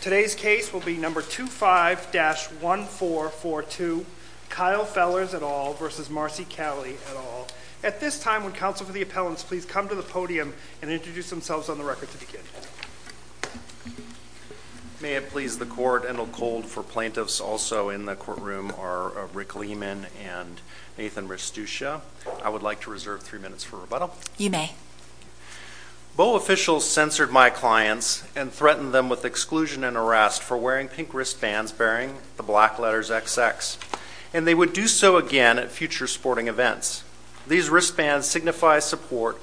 Today's case will be No. 25-1442, Kyle Fellers et al. v. Marcy Kelley et al. At this time, would counsel for the appellants please come to the podium and introduce themselves on the record to begin. May it please the court and hold cold for plaintiffs also in the courtroom are Rick Lehman and Nathan Restuccia. I would like to reserve three minutes for rebuttal. You may. Boa officials censored my clients and threatened them with exclusion and arrest for wearing pink wristbands bearing the black letters XX and they would do so again at future sporting events. These wristbands signify support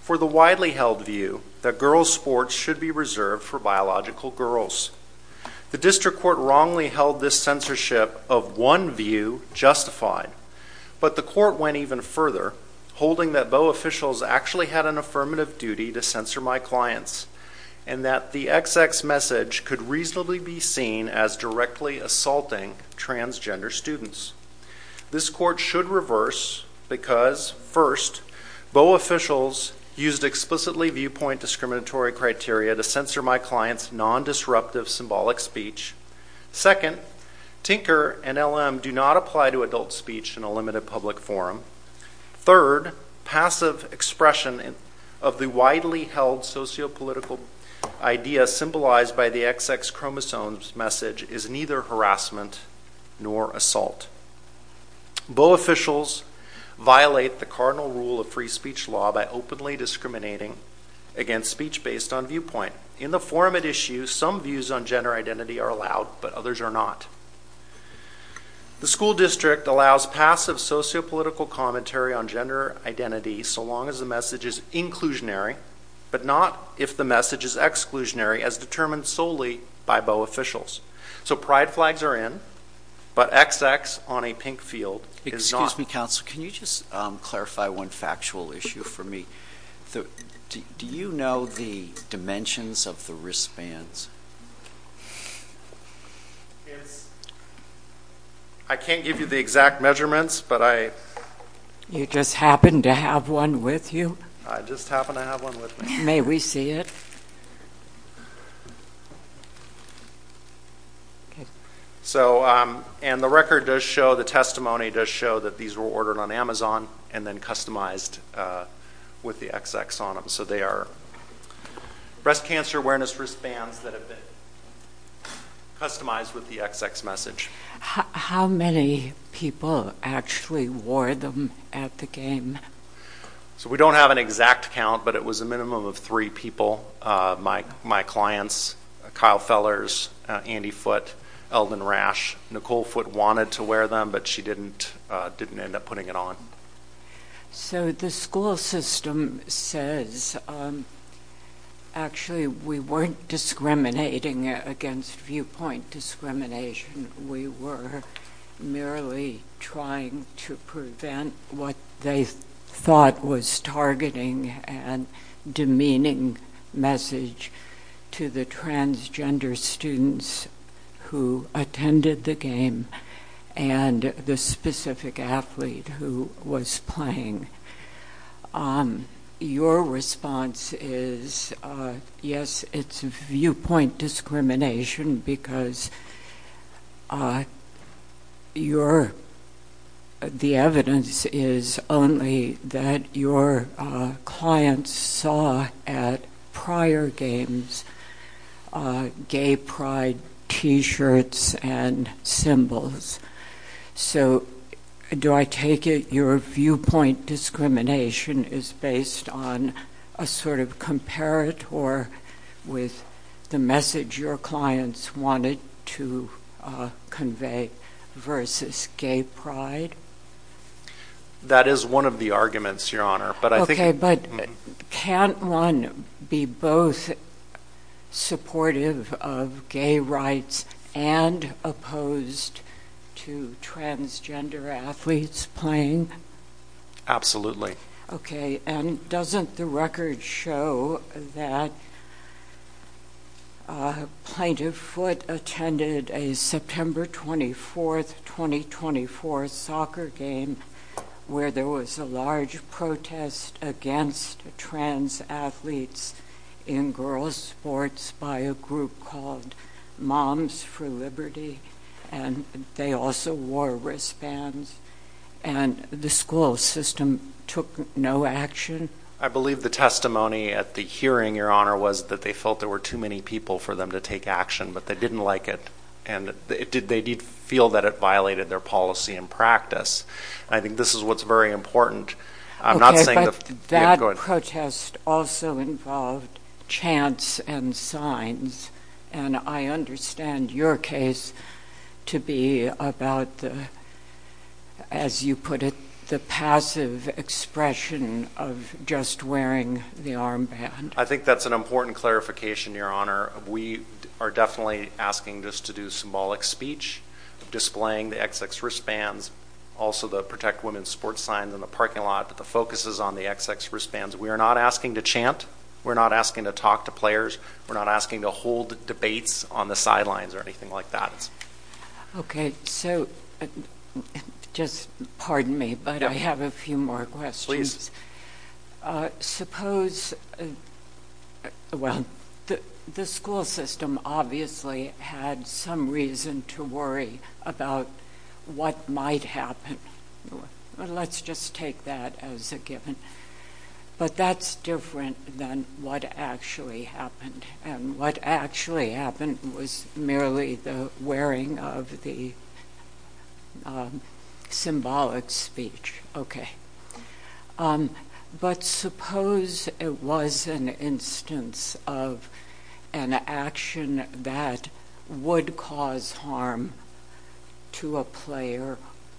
for the widely held view that girls sports should be reserved for biological girls. The district court wrongly held this censorship of one view justified, but the court went even further holding that Boa officials actually had an affirmative duty to censor my clients and that the XX message could reasonably be seen as directly assaulting transgender students. This court should reverse because, first, Boa officials used explicitly viewpoint discriminatory criteria to censor my clients non-disruptive symbolic speech, second, Tinker and LM do not apply to adult speech in a limited public forum, third, passive expression of the widely held sociopolitical idea symbolized by the XX chromosomes message is neither harassment nor assault. Boa officials violate the cardinal rule of free speech law by openly discriminating against speech based on viewpoint. In the forum at issue, some views on gender identity are allowed, but others are not. The school district allows passive sociopolitical commentary on gender identity so long as the message is inclusionary, but not if the message is exclusionary as determined solely by Boa officials. So pride flags are in, but XX on a pink field is not. Excuse me, counsel. Can you just clarify one factual issue for me? Do you know the dimensions of the wristbands? I can't give you the exact measurements, but I... You just happen to have one with you? I just happen to have one with me. May we see it? So and the record does show, the testimony does show that these were ordered on Amazon and then customized with the XX on them. So they are breast cancer awareness wristbands that have been customized with the XX message. How many people actually wore them at the game? So we don't have an exact count, but it was a minimum of three people. My clients, Kyle Fellers, Andy Foote, Eldon Rash. Nicole Foote wanted to wear them, but she didn't end up putting it on. So the school system says, actually, we weren't discriminating against viewpoint discrimination. We were merely trying to prevent what they thought was targeting and demeaning message to the transgender students who attended the game and the specific athlete who was playing. Your response is, yes, it's viewpoint discrimination because your... The evidence is only that your clients saw at prior games gay pride t-shirts and symbols. So do I take it your viewpoint discrimination is based on a sort of comparator with the message your clients wanted to convey versus gay pride? That is one of the arguments, Your Honor, but I think... Okay, but can't one be both supportive of gay rights and opposed to transgender athletes playing? Absolutely. Okay, and doesn't the record show that Plaintiff Foote attended a September 24th, 2024, soccer game where there was a large protest against trans athletes in girls' sports by a group called Moms for Liberty, and they also wore wristbands, and the school system took no action? I believe the testimony at the hearing, Your Honor, was that they felt there were too many people for them to take action, but they didn't like it, and they did feel that it violated their policy and practice. I think this is what's very important. I'm not saying... Okay, but that protest also involved chants and signs, and I understand your case to be about the, as you put it, the passive expression of just wearing the armband. I think that's an important clarification, Your Honor. We are definitely asking this to do symbolic speech, displaying the XX wristbands, also the Protect Women sports signs in the parking lot, but the focus is on the XX wristbands. We are not asking to chant. We're not asking to talk to players. We're not asking to hold debates on the sidelines or anything like that. Okay, so, just pardon me, but I have a few more questions. Suppose... Well, the school system obviously had some reason to worry about what might happen. Let's just take that as a given. But that's different than what actually happened, and what actually happened was merely the wearing of the symbolic speech. But suppose it was an instance of an action that would cause harm to a player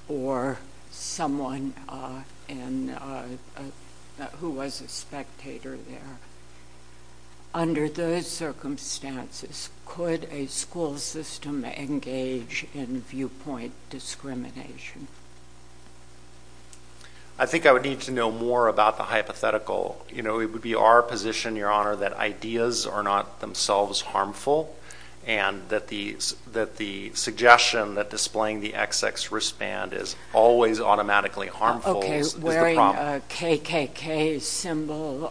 or someone who was a spectator there. Under those circumstances, could a school system engage in viewpoint discrimination? I think I would need to know more about the hypothetical. You know, it would be our position, Your Honor, that ideas are not themselves harmful and that the suggestion that displaying the XX wristband is always automatically harmful is the problem. What about the KKK symbol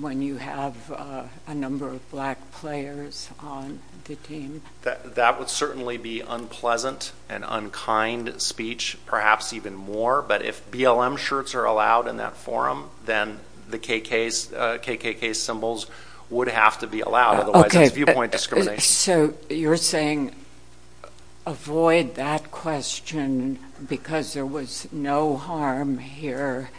when you have a number of black players on the team? That would certainly be unpleasant and unkind speech, perhaps even more, but if BLM shirts are allowed in that forum, then the KKK symbols would have to be allowed, otherwise it's viewpoint discrimination. So you're saying avoid that question because there was no harm here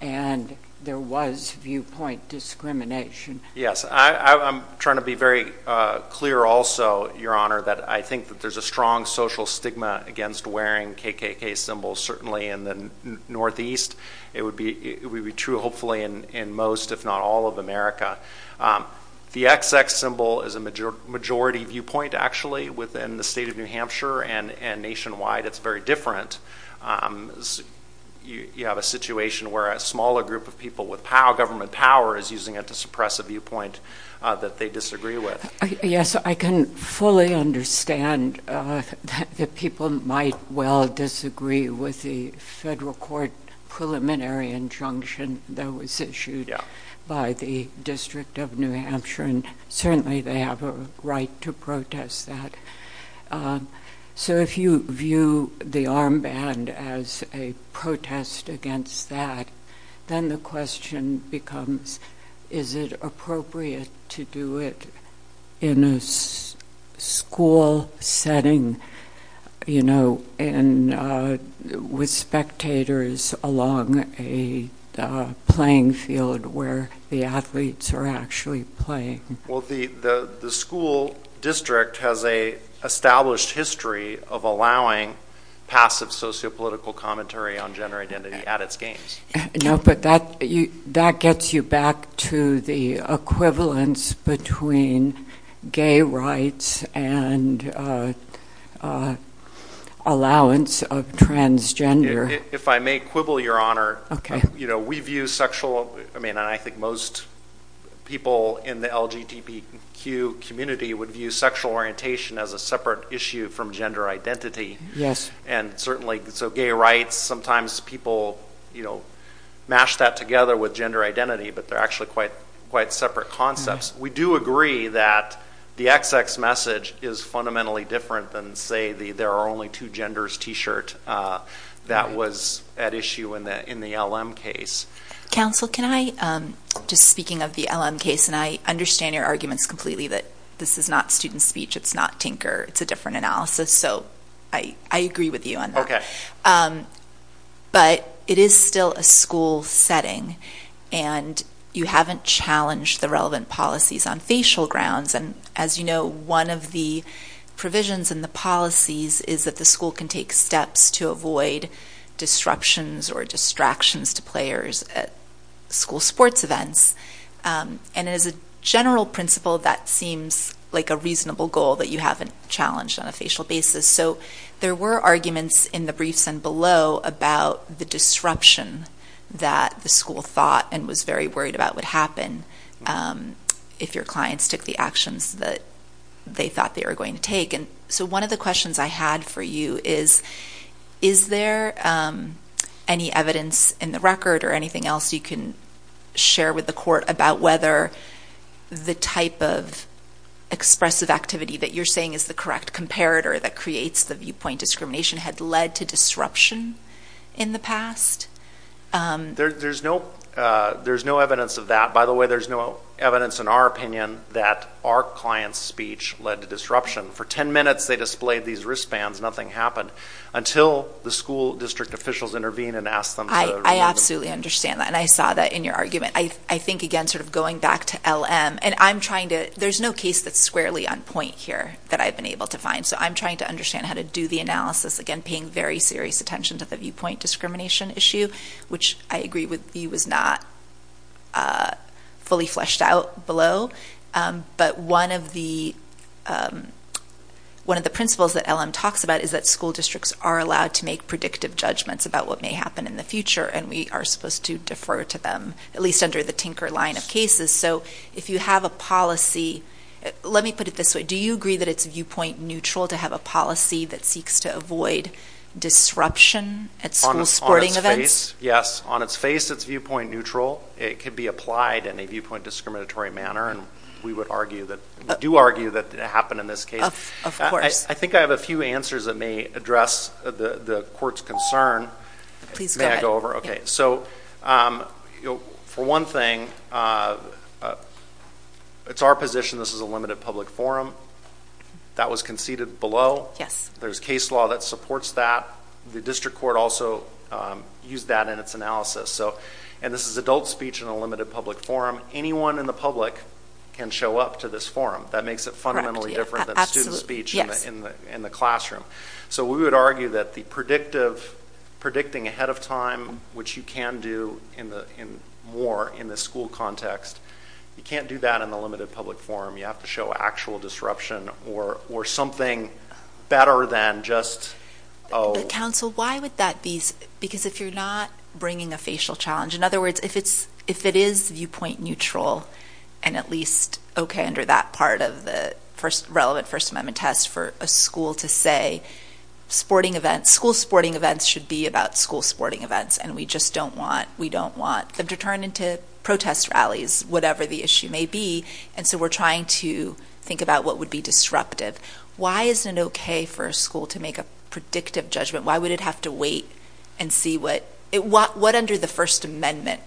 and there was viewpoint discrimination? Yes. I'm trying to be very clear also, Your Honor, that I think that there's a strong social stigma against wearing KKK symbols, certainly in the Northeast. It would be true, hopefully, in most, if not all, of America. The XX symbol is a majority viewpoint, actually, within the state of New Hampshire and nationwide. It's very different. You have a situation where a smaller group of people with government power is using it to suppress a viewpoint that they disagree with. Yes, I can fully understand that people might well disagree with the federal court preliminary injunction that was issued by the District of New Hampshire, and certainly they have a right to protest that. So if you view the armband as a protest against that, then the question becomes, is it appropriate to do it in a school setting with spectators along a playing field where the athletes are actually playing? Well, the school district has an established history of allowing passive sociopolitical commentary on gender identity at its games. No, but that gets you back to the equivalence between gay rights and allowance of transgender. If I may quibble, Your Honor, we view sexual, and I think most people in the LGBTQ community would view sexual orientation as a separate issue from gender identity. So gay rights, sometimes people mash that together with gender identity, but they're actually quite separate concepts. We do agree that the XX message is fundamentally different than, say, the there are only two genders t-shirt that was at issue in the LM case. Counsel, can I, just speaking of the LM case, and I understand your arguments completely that this is not student speech, it's not tinker, it's a different analysis. So I agree with you on that, but it is still a school setting, and you haven't challenged the relevant policies on facial grounds, and as you know, one of the provisions in the policies is that the school can take steps to avoid disruptions or distractions to players at school sports events, and as a general principle, that seems like a reasonable goal that you haven't challenged on a facial basis. So there were arguments in the briefs and below about the disruption that the school thought and was very worried about would happen if your clients took the actions that they thought they were going to take. So one of the questions I had for you is, is there any evidence in the record or anything else you can share with the court about whether the type of expressive activity that you're saying is the correct comparator that creates the viewpoint discrimination had led to disruption in the past? There's no evidence of that. By the way, there's no evidence in our opinion that our client's speech led to disruption. For ten minutes they displayed these wristbands, nothing happened, until the school district officials intervened and asked them to remove them. I absolutely understand that, and I saw that in your argument. I think, again, sort of going back to LM, and I'm trying to, there's no case that's squarely on point here that I've been able to find. So I'm trying to understand how to do the analysis, again, paying very serious attention to the viewpoint discrimination issue, which I agree with you was not fully fleshed out below. But one of the principles that LM talks about is that school districts are allowed to make predictive judgments about what may happen in the future, and we are supposed to defer to them, at least under the Tinker line of cases. So if you have a policy, let me put it this way, do you agree that it's viewpoint neutral to have a policy that seeks to avoid disruption at school sporting events? Yes. On its face, it's viewpoint neutral. It could be applied in a viewpoint discriminatory manner, and we would argue that, we do argue that it happened in this case. Of course. I think I have a few answers that may address the court's concern. Please go ahead. May I go over? Okay. So for one thing, it's our position this is a limited public forum. That was conceded below. Yes. There's case law that supports that. The district court also used that in its analysis, and this is adult speech in a limited public forum. Anyone in the public can show up to this forum. That makes it fundamentally different than student speech in the classroom. So we would argue that the predictive, predicting ahead of time, which you can do more in the school context, you can't do that in the limited public forum. You have to show actual disruption or something better than just... Counsel, why would that be? Because if you're not bringing a facial challenge, in other words, if it is viewpoint neutral and at least okay under that part of the relevant First Amendment test for a school to say school sporting events should be about school sporting events, and we just don't want them to turn into protest rallies, whatever the issue may be. And so we're trying to think about what would be disruptive. Why is it okay for a school to make a predictive judgment? Why would it have to wait and see what... What under the First Amendment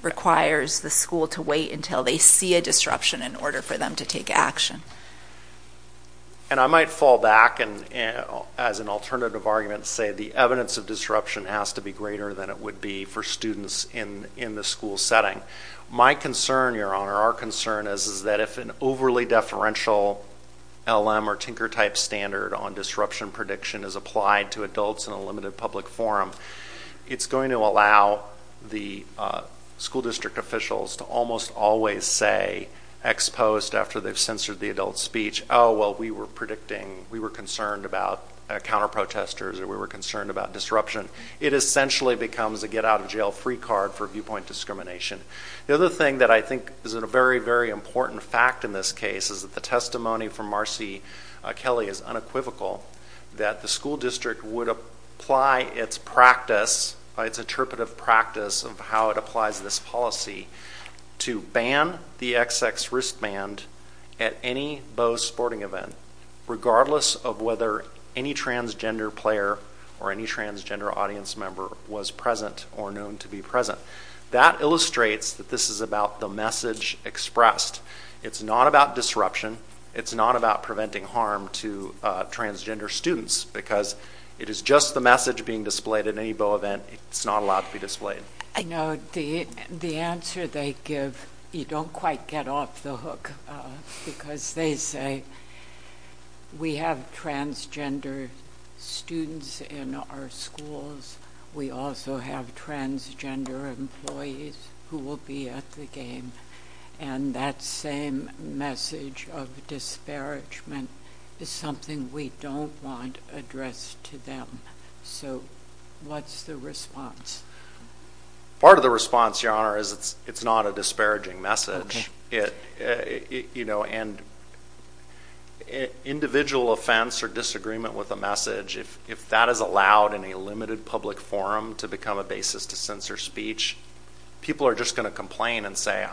requires the school to wait until they see a disruption in order for them to take action? And I might fall back and as an alternative argument say the evidence of disruption has to be greater than it would be for students in the school setting. My concern, Your Honor, our concern is that if an overly deferential LM or tinker type standard on disruption prediction is applied to adults in a limited public forum, it's going to allow the school district officials to almost always say ex post after they've censored the adult speech, oh, well, we were predicting... We were concerned about counter protesters or we were concerned about disruption. It essentially becomes a get out of jail free card for viewpoint discrimination. The other thing that I think is a very, very important fact in this case is that the testimony from Marcy Kelly is unequivocal that the school district would apply its practice, its interpretive practice of how it applies this policy to ban the XX wristband at any bow sporting event regardless of whether any transgender player or any transgender audience member was present or known to be present. That illustrates that this is about the message expressed. It's not about disruption. It's not about preventing harm to transgender students because it is just the message being displayed at any bow event. It's not allowed to be displayed. I know the answer they give, you don't quite get off the hook because they say we have transgender students in our schools. We also have transgender employees who will be at the game. And that same message of disparagement is something we don't want addressed to them. So what's the response? Part of the response, Your Honor, is it's not a disparaging message. And individual offense or disagreement with a message, if that is allowed in a limited public forum to become a basis to censor speech, people are just going to complain and say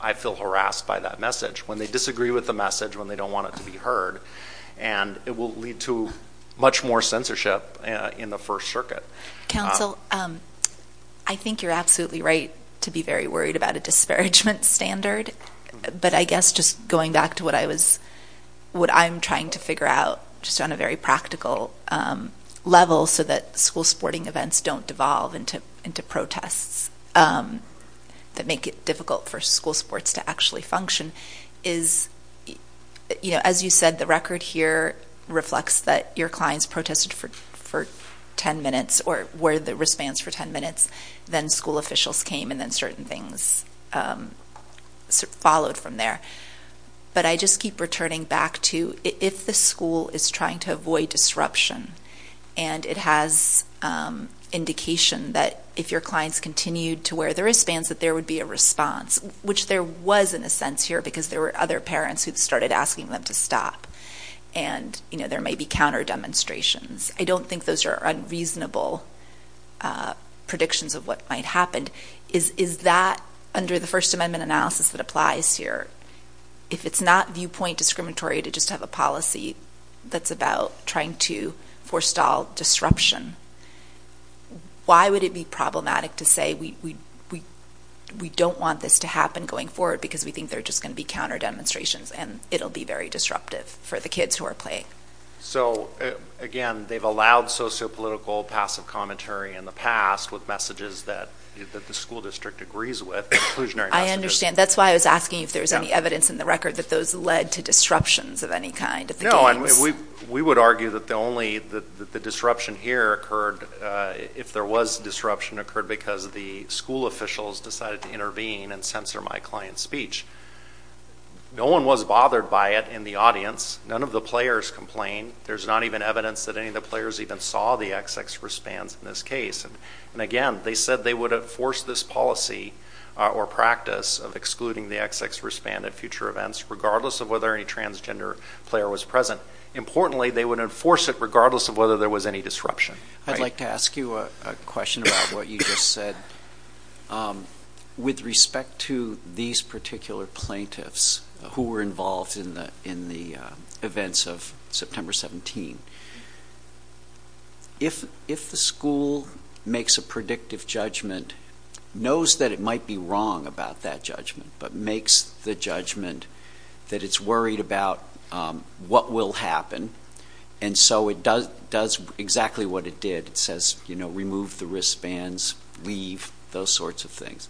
I feel harassed by that message when they disagree with the message, when they don't want it to be heard. And it will lead to much more censorship in the First Circuit. Counsel, I think you're absolutely right to be very worried about a disparagement standard. But I guess just going back to what I'm trying to figure out just on a very practical level so that school sporting events don't devolve into protests that make it difficult for school sports to actually function is, you know, as you said, the record here reflects that your clients protested for ten minutes or wore the wristbands for ten minutes. Then school officials came and then certain things followed from there. But I just keep returning back to if the school is trying to avoid disruption and it has indication that if your clients continued to wear the wristbands that there would be a response, which there was in a sense here because there were other parents who started asking them to stop. And you know, there may be counter demonstrations. I don't think those are unreasonable predictions of what might happen. Is that, under the First Amendment analysis that applies here, if it's not viewpoint discriminatory to just have a policy that's about trying to forestall disruption? Why would it be problematic to say we don't want this to happen going forward because we think there are just going to be counter demonstrations and it'll be very disruptive for the kids who are playing? So again, they've allowed socio-political passive commentary in the past with messages that the school district agrees with, inclusionary messages. I understand. That's why I was asking if there was any evidence in the record that those led to disruptions of any kind. No, and we would argue that the only, that the disruption here occurred, if there was disruption, occurred because the school officials decided to intervene and censor my client's speech. No one was bothered by it in the audience. None of the players complained. There's not even evidence that any of the players even saw the XX wristbands in this case. And again, they said they would enforce this policy or practice of excluding the XX wristband at future events, regardless of whether any transgender player was present. Importantly, they would enforce it regardless of whether there was any disruption. I'd like to ask you a question about what you just said. With respect to these particular plaintiffs who were involved in the events of September 17, if the school makes a predictive judgment, knows that it might be wrong about that judgment, but makes the judgment that it's worried about what will happen, and so it does exactly what it did, it says, you know, remove the wristbands, leave, those sorts of things.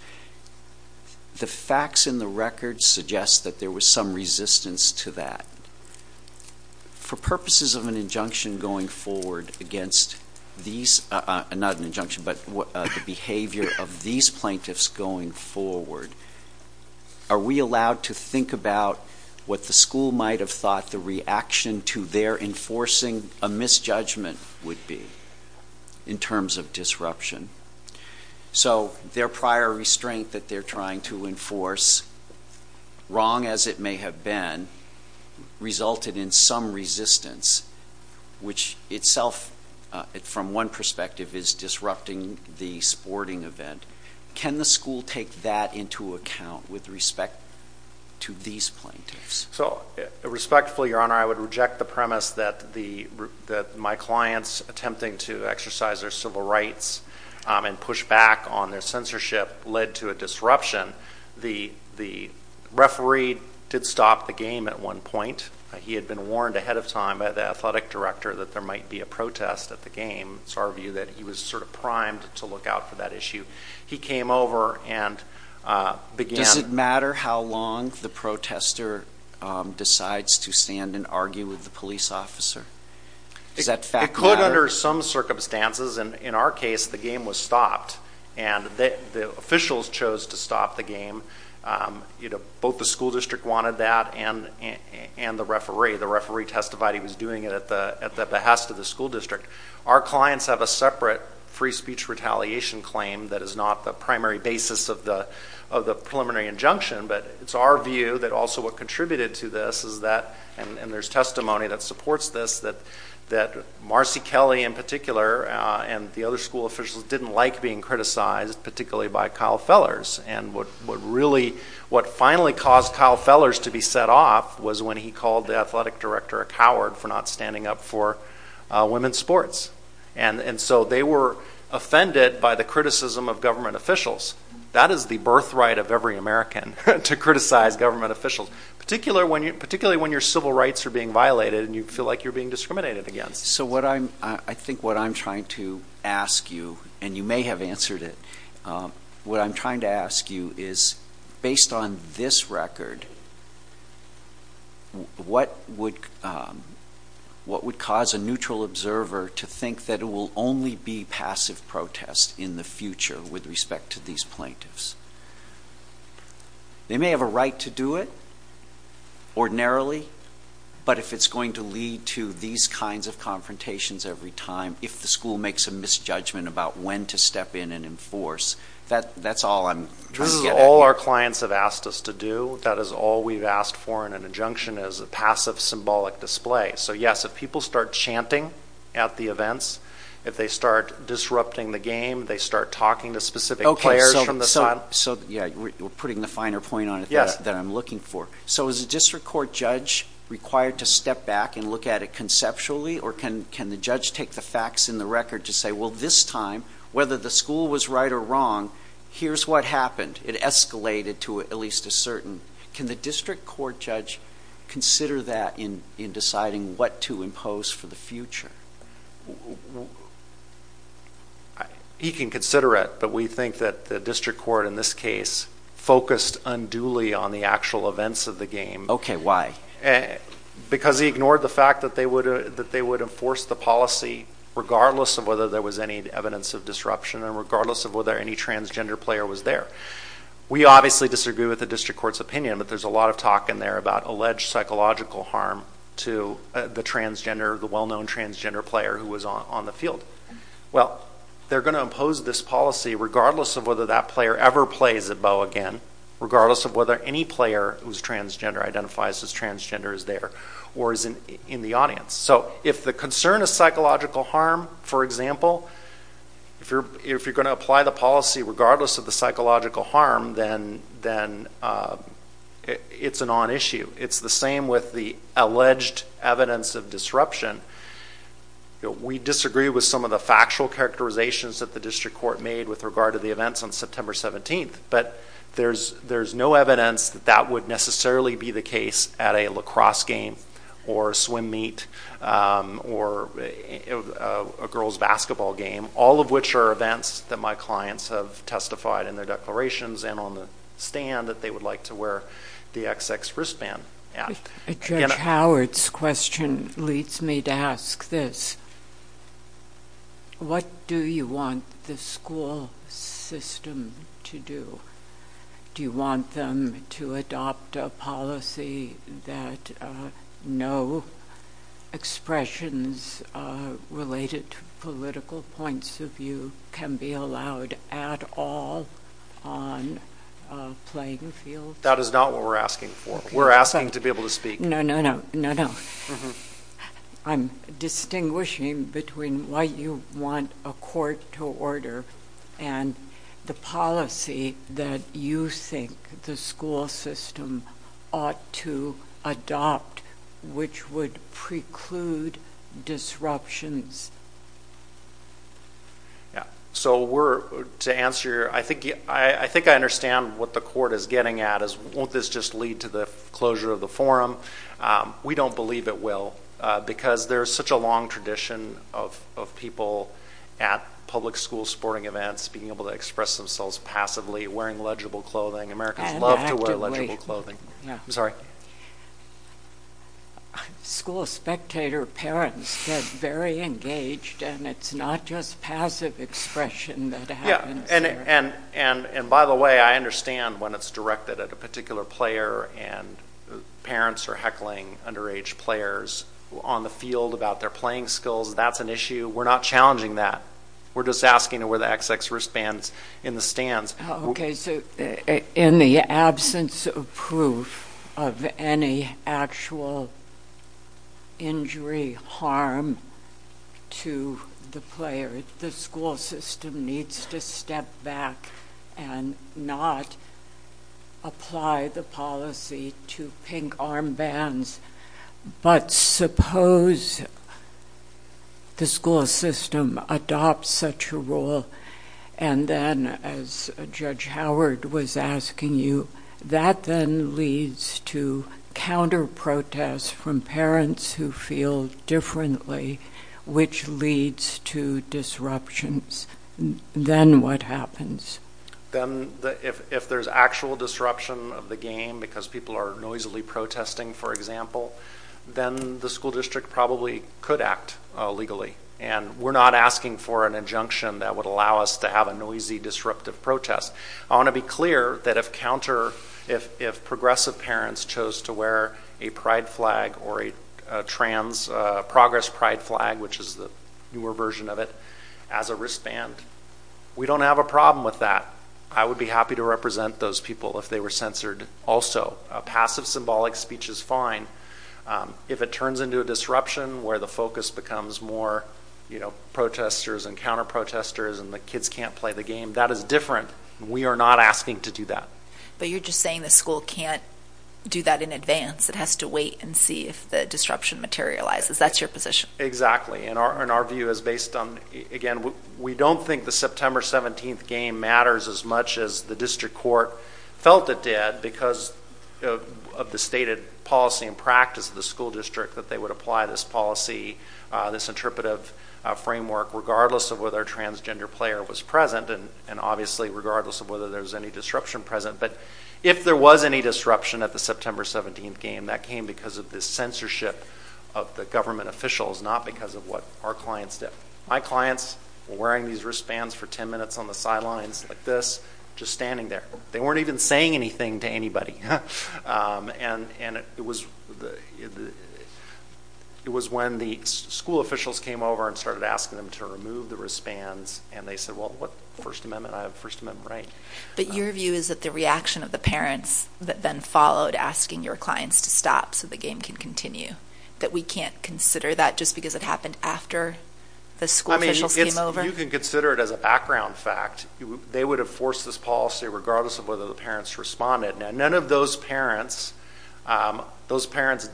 The facts in the record suggest that there was some resistance to that. For purposes of an injunction going forward against these, not an injunction, but the behavior of these plaintiffs going forward, are we allowed to think about what the school might have thought the reaction to their enforcing a misjudgment would be in terms of disruption? So their prior restraint that they're trying to enforce, wrong as it may have been, resulted in some resistance, which itself from one perspective is disrupting the sporting event. Can the school take that into account with respect to these plaintiffs? So respectfully, Your Honor, I would reject the premise that my clients attempting to exercise their civil rights and push back on their censorship led to a disruption. The referee did stop the game at one point. He had been warned ahead of time by the athletic director that there might be a protest at the game, it's our view that he was sort of primed to look out for that issue. He came over and began... Does it matter how long the protester decides to stand and argue with the police officer? Does that fact matter? It could under some circumstances, and in our case, the game was stopped, and the officials chose to stop the game. Both the school district wanted that and the referee. The referee testified he was doing it at the behest of the school district. Our clients have a separate free speech retaliation claim that is not the primary basis of the preliminary injunction, but it's our view that also what contributed to this is that, and there's testimony that supports this, that Marcy Kelly in particular and the other school officials didn't like being criticized, particularly by Kyle Fellers, and what finally caused Kyle Fellers to be set off was when he called the athletic director a coward for not standing up for women's sports. They were offended by the criticism of government officials. That is the birthright of every American, to criticize government officials, particularly when your civil rights are being violated and you feel like you're being discriminated against. So I think what I'm trying to ask you, and you may have answered it, what I'm trying to ask you is, based on this record, what would cause a neutral observer to think that it will only be passive protest in the future with respect to these plaintiffs? They may have a right to do it, ordinarily, but if it's going to lead to these kinds of confrontations every time, if the school makes a misjudgment about when to step in and enforce, that's all I'm getting at. This is all our clients have asked us to do. That is all we've asked for in an injunction is a passive symbolic display. So yes, if people start chanting at the events, if they start disrupting the game, they start talking to specific players from the side. So we're putting the finer point on it that I'm looking for. So is a district court judge required to step back and look at it conceptually, or can the judge take the facts in the record to say, well, this time, whether the school was right or wrong, here's what happened. It escalated to at least a certain. Can the district court judge consider that in deciding what to impose for the future? He can consider it, but we think that the district court in this case focused unduly on the actual events of the game. Okay, why? Because he ignored the fact that they would enforce the policy regardless of whether there was any evidence of disruption and regardless of whether any transgender player was there. We obviously disagree with the district court's opinion, but there's a lot of talk in there about alleged psychological harm to the transgender, the well-known transgender player who was on the field. Well, they're going to impose this policy regardless of whether that player ever plays a bow again, regardless of whether any player who's transgender identifies as transgender is there or is in the audience. So if the concern is psychological harm, for example, if you're going to apply the policy It's the same with the alleged evidence of disruption. We disagree with some of the factual characterizations that the district court made with regard to the events on September 17th, but there's no evidence that that would necessarily be the case at a lacrosse game or a swim meet or a girls basketball game, all of which are events that my clients have testified in their declarations and on the stand that they would like to wear the XX wristband at. Judge Howard's question leads me to ask this. What do you want the school system to do? Do you want them to adopt a policy that no expressions related to political points of view can be allowed at all on a playing field? That is not what we're asking for. We're asking to be able to speak. No, no, no, no, no. I'm distinguishing between why you want a court to order and the policy that you think the school system ought to adopt, which would preclude disruptions. Yeah, so to answer, I think I understand what the court is getting at is won't this just lead to the closure of the forum? We don't believe it will, because there's such a long tradition of people at public school sporting events being able to express themselves passively, wearing legible clothing. Americans love to wear legible clothing. I'm sorry. School spectator parents get very engaged, and it's not just passive expression that happens there. Yeah, and by the way, I understand when it's directed at a particular player, and parents are heckling underage players on the field about their playing skills. That's an issue. We're not challenging that. We're just asking to wear the XX wristbands in the stands. Okay, so in the absence of proof of any actual injury, harm to the player, the school system needs to step back and not apply the policy to pink armbands. But suppose the school system adopts such a rule, and then, as Judge Howard was asking you, that then leads to counter-protests from parents who feel differently, which leads to disruptions. Then what happens? Then, if there's actual disruption of the game because people are noisily protesting, for example, then the school district probably could act illegally, and we're not asking for an injunction that would allow us to have a noisy, disruptive protest. I want to be clear that if progressive parents chose to wear a pride flag or a trans progress pride flag, which is the newer version of it, as a wristband, we don't have a problem with that. I would be happy to represent those people if they were censored also. Passive symbolic speech is fine. If it turns into a disruption where the focus becomes more protesters and counter-protesters and the kids can't play the game, that is different. We are not asking to do that. But you're just saying the school can't do that in advance. It has to wait and see if the disruption materializes. That's your position. Exactly. And our view is based on, again, we don't think the September 17th game matters as much as the district court felt it did because of the stated policy and practice of the school district that they would apply this policy, this interpretive framework, regardless of whether a transgender player was present, and obviously regardless of whether there was any disruption present. But if there was any disruption at the September 17th game, that came because of the censorship of the government officials, not because of what our clients did. My clients were wearing these wristbands for 10 minutes on the sidelines like this, just standing there. They weren't even saying anything to anybody. And it was when the school officials came over and started asking them to remove the wristbands, and they said, well, what, First Amendment? I have First Amendment rights. But your view is that the reaction of the parents that then followed asking your clients to stop so the game can continue, that we can't consider that just because it happened after the school officials came over? I mean, you can consider it as a background fact. They would have forced this policy regardless of whether the parents responded. Now, none of those parents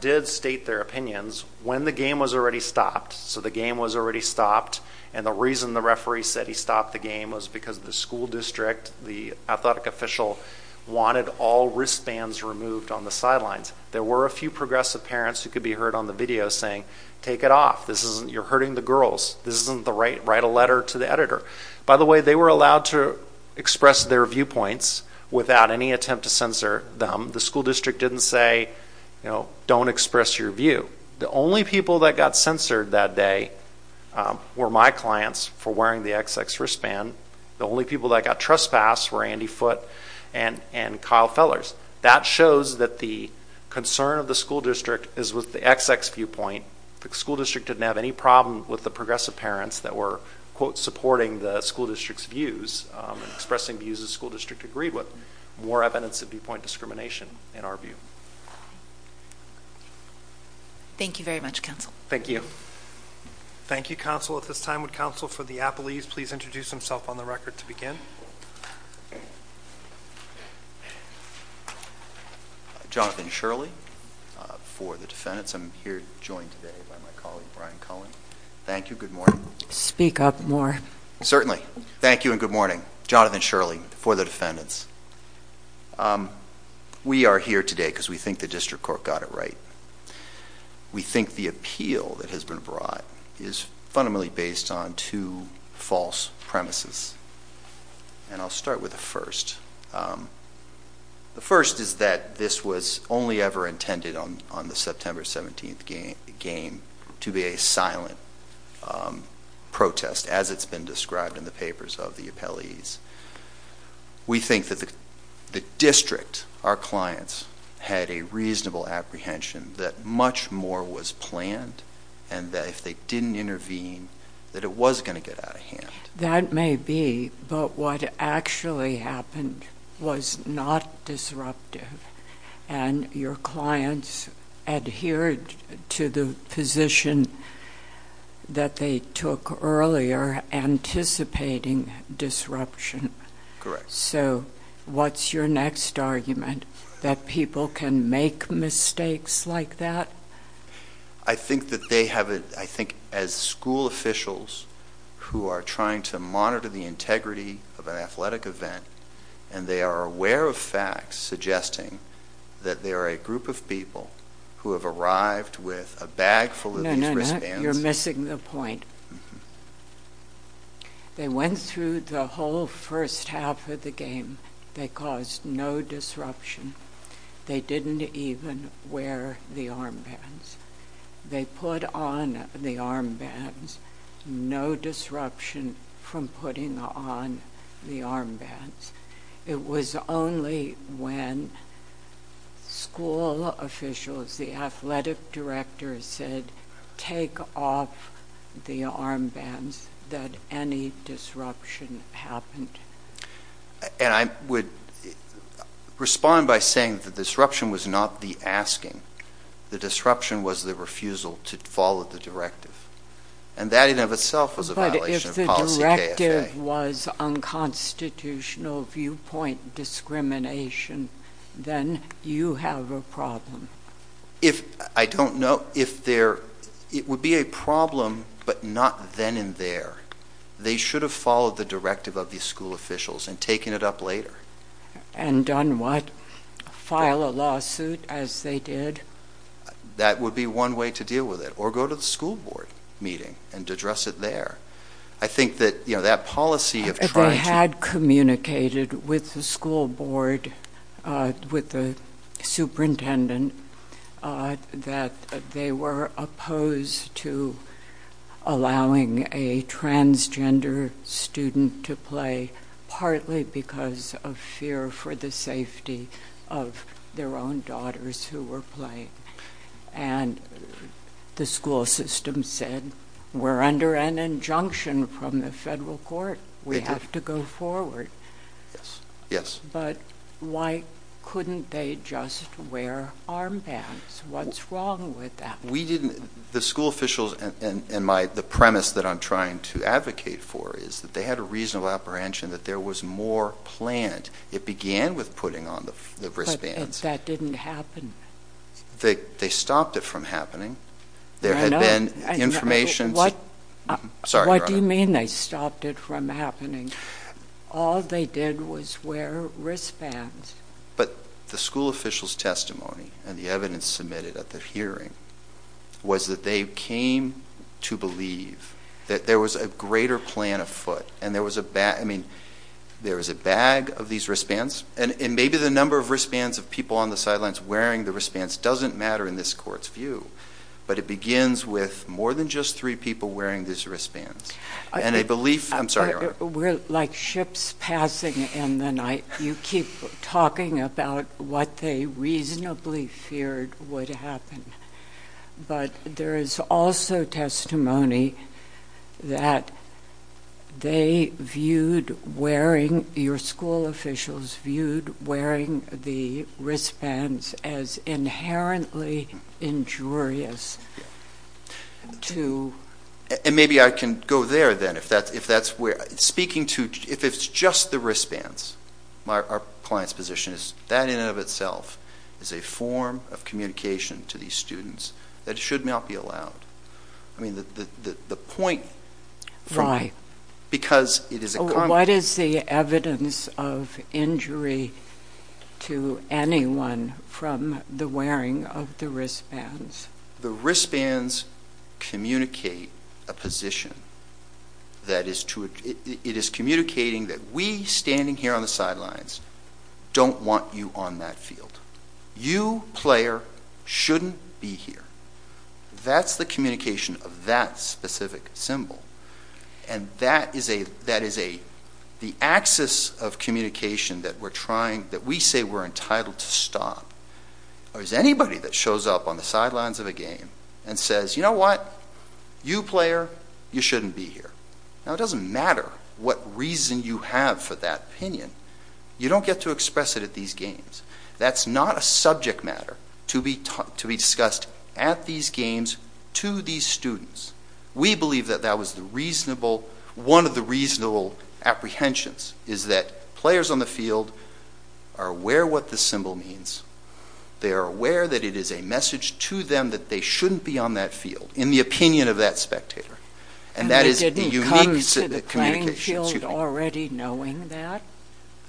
did state their opinions when the game was already stopped. So the game was already stopped. And the reason the referee said he stopped the game was because the school district, the athletic official, wanted all wristbands removed on the sidelines. There were a few progressive parents who could be heard on the video saying, take it off. You're hurting the girls. This isn't the right. Write a letter to the editor. By the way, they were allowed to express their viewpoints without any attempt to censor them. The school district didn't say, don't express your view. The only people that got censored that day were my clients for wearing the XX wristband. The only people that got trespassed were Andy Foote and Kyle Fellers. That shows that the concern of the school district is with the XX viewpoint. The school district didn't have any problem with the progressive parents that were, quote, supporting the school district's views, expressing views the school district agreed with. More evidence of viewpoint discrimination, in our view. Thank you very much, counsel. Thank you. Thank you, counsel. At this time, would counsel for the Appalese please introduce himself on the record to Jonathan Shirley for the defendants. I'm here joined today by my colleague, Brian Cullen. Thank you. Good morning. Speak up more. Certainly. Thank you and good morning. Jonathan Shirley for the defendants. We are here today because we think the district court got it right. We think the appeal that has been brought is fundamentally based on two false premises. And I'll start with the first. The first is that this was only ever intended on the September 17th game to be a silent protest as it's been described in the papers of the Appalese. We think that the district, our clients, had a reasonable apprehension that much more was planned and that if they didn't intervene, that it was going to get out of hand. That may be, but what actually happened was not disruptive and your clients adhered to the position that they took earlier, anticipating disruption. Correct. So what's your next argument? That people can make mistakes like that? I think that they have a, I think as school officials who are trying to monitor the integrity of an athletic event and they are aware of facts suggesting that there are a group of people who have arrived with a bag full of these wristbands. No, no, no. You're missing the point. They went through the whole first half of the game. They caused no disruption. They didn't even wear the armbands. They put on the armbands. No disruption from putting on the armbands. It was only when school officials, the athletic directors said, take off the armbands that any disruption happened. And I would respond by saying that the disruption was not the asking. The disruption was the refusal to follow the directive. And that in and of itself was a violation of policy KFA. If the directive was unconstitutional viewpoint discrimination, then you have a problem. If I don't know, if there, it would be a problem, but not then and there. They should have followed the directive of the school officials and taken it up later. And done what? File a lawsuit as they did? That would be one way to deal with it. Or go to the school board meeting and address it there. I think that, you know, that policy of trying to... They had communicated with the school board, with the superintendent, that they were opposed to allowing a transgender student to play, partly because of fear for the safety of their own daughters who were playing. And the school system said, we're under an injunction from the federal court. We have to go forward. Yes. But why couldn't they just wear armbands? What's wrong with that? We didn't... The school officials and my, the premise that I'm trying to advocate for is that they had a reasonable apprehension that there was more planned. It began with putting on the wristbands. That didn't happen. They stopped it from happening. There had been information... What do you mean they stopped it from happening? All they did was wear wristbands. But the school officials' testimony and the evidence submitted at the hearing was that they came to believe that there was a greater plan afoot. And there was a bag, I mean, there was a bag of these wristbands. And maybe the number of wristbands of people on the sidelines wearing the wristbands doesn't matter in this court's view. But it begins with more than just three people wearing these wristbands. And a belief... I'm sorry, Your Honor. We're like ships passing in the night. You keep talking about what they reasonably feared would happen. But there is also testimony that they viewed wearing, your school officials viewed wearing the wristbands as inherently injurious to... And maybe I can go there then, if that's where... Speaking to... If it's just the wristbands, our client's position is that in and of itself is a form of communication to these students that should not be allowed. I mean, the point... Why? Because it is a... What is the evidence of injury to anyone from the wearing of the wristbands? The wristbands communicate a position that is to... It is communicating that we, standing here on the sidelines, don't want you on that field. You, player, shouldn't be here. That's the communication of that specific symbol. And that is a... That is a... The axis of communication that we're trying... That we say we're entitled to stop, or is anybody that shows up on the sidelines of a game and says, you know what? You player, you shouldn't be here. Now, it doesn't matter what reason you have for that opinion. You don't get to express it at these games. That's not a subject matter to be discussed at these games to these students. We believe that that was the reasonable... One of the reasonable apprehensions is that players on the field are aware what the symbol means. They are aware that it is a message to them that they shouldn't be on that field, in the opinion of that spectator. And that is the unique... And they didn't come to the playing field already knowing that?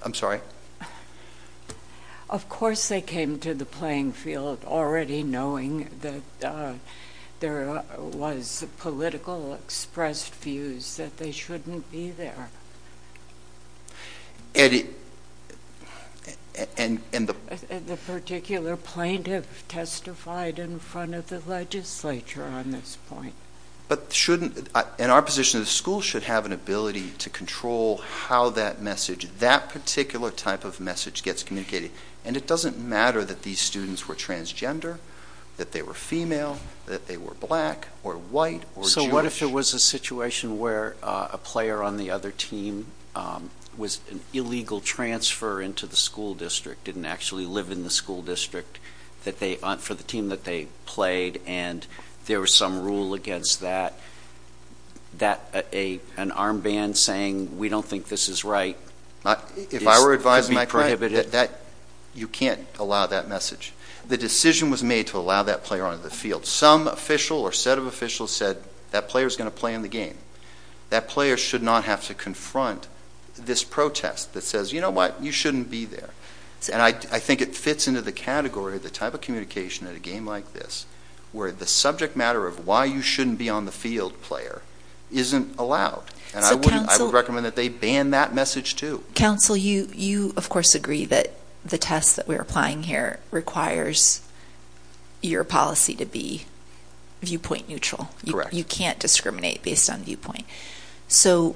I'm sorry? Of course they came to the playing field already knowing that there was political expressed views that they shouldn't be there. And it... And the... And the particular plaintiff testified in front of the legislature on this point. But shouldn't... And our position is the school should have an ability to control how that message, that particular type of message gets communicated. And it doesn't matter that these students were transgender, that they were female, that they were black or white or Jewish. So what if there was a situation where a player on the other team was an illegal transfer into the school district, didn't actually live in the school district that they... to the team that they played, and there was some rule against that, that an armband saying we don't think this is right is to be prohibited? If I were advising my client that you can't allow that message. The decision was made to allow that player onto the field. Some official or set of officials said that player is going to play in the game. That player should not have to confront this protest that says, you know what, you shouldn't be there. And I think it fits into the category of the type of communication at a game like this where the subject matter of why you shouldn't be on the field player isn't allowed. And I would recommend that they ban that message too. Council, you of course agree that the test that we're applying here requires your policy to be viewpoint neutral. You can't discriminate based on viewpoint. So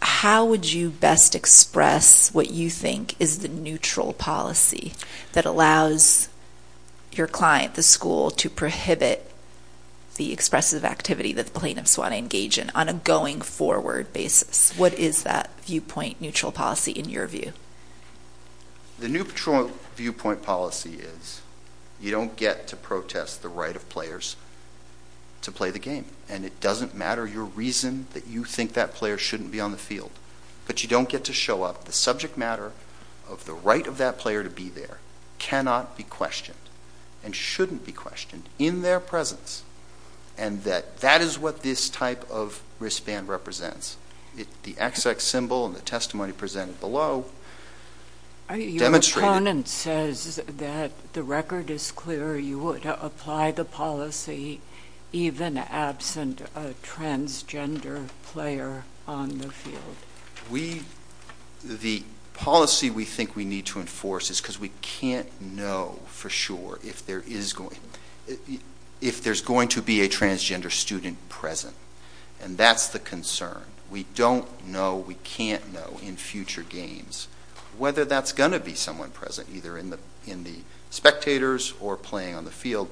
how would you best express what you think is the neutral policy that allows your client, the school, to prohibit the expressive activity that the plaintiffs want to engage in on a going forward basis? What is that viewpoint neutral policy in your view? The neutral viewpoint policy is you don't get to protest the right of players to play the game. And it doesn't matter your reason that you think that player shouldn't be on the field. But you don't get to show up. The subject matter of the right of that player to be there cannot be questioned and shouldn't be questioned in their presence. And that is what this type of wristband represents. The XX symbol and the testimony presented below demonstrate it. It says that the record is clear you would apply the policy even absent a transgender player on the field. The policy we think we need to enforce is because we can't know for sure if there is going to be a transgender student present. And that's the concern. We don't know, we can't know in future games, whether that's going to be someone present in the spectators or playing on the field.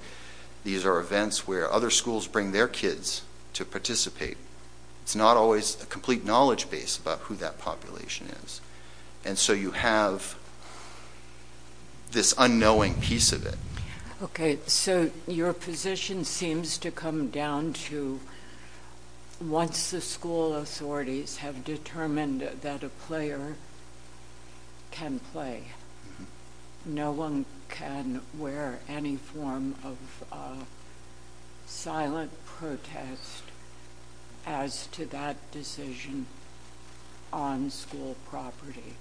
These are events where other schools bring their kids to participate. It's not always a complete knowledge base about who that population is. And so you have this unknowing piece of it. Okay, so your position seems to come down to once the school authorities have determined that a player can play, no one can wear any form of silent protest as to that decision on school property.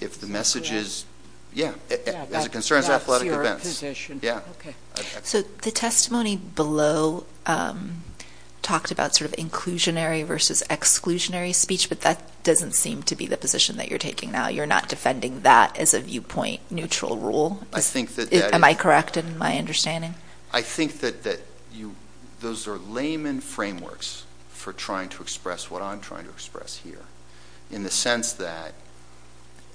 If the message is, yeah, as it concerns athletic events. Yeah. Okay. So the testimony below talked about sort of inclusionary versus exclusionary speech, but that doesn't seem to be the position that you're taking now. You're not defending that as a viewpoint neutral rule? Am I correct in my understanding? I think that those are layman frameworks for trying to express what I'm trying to express here in the sense that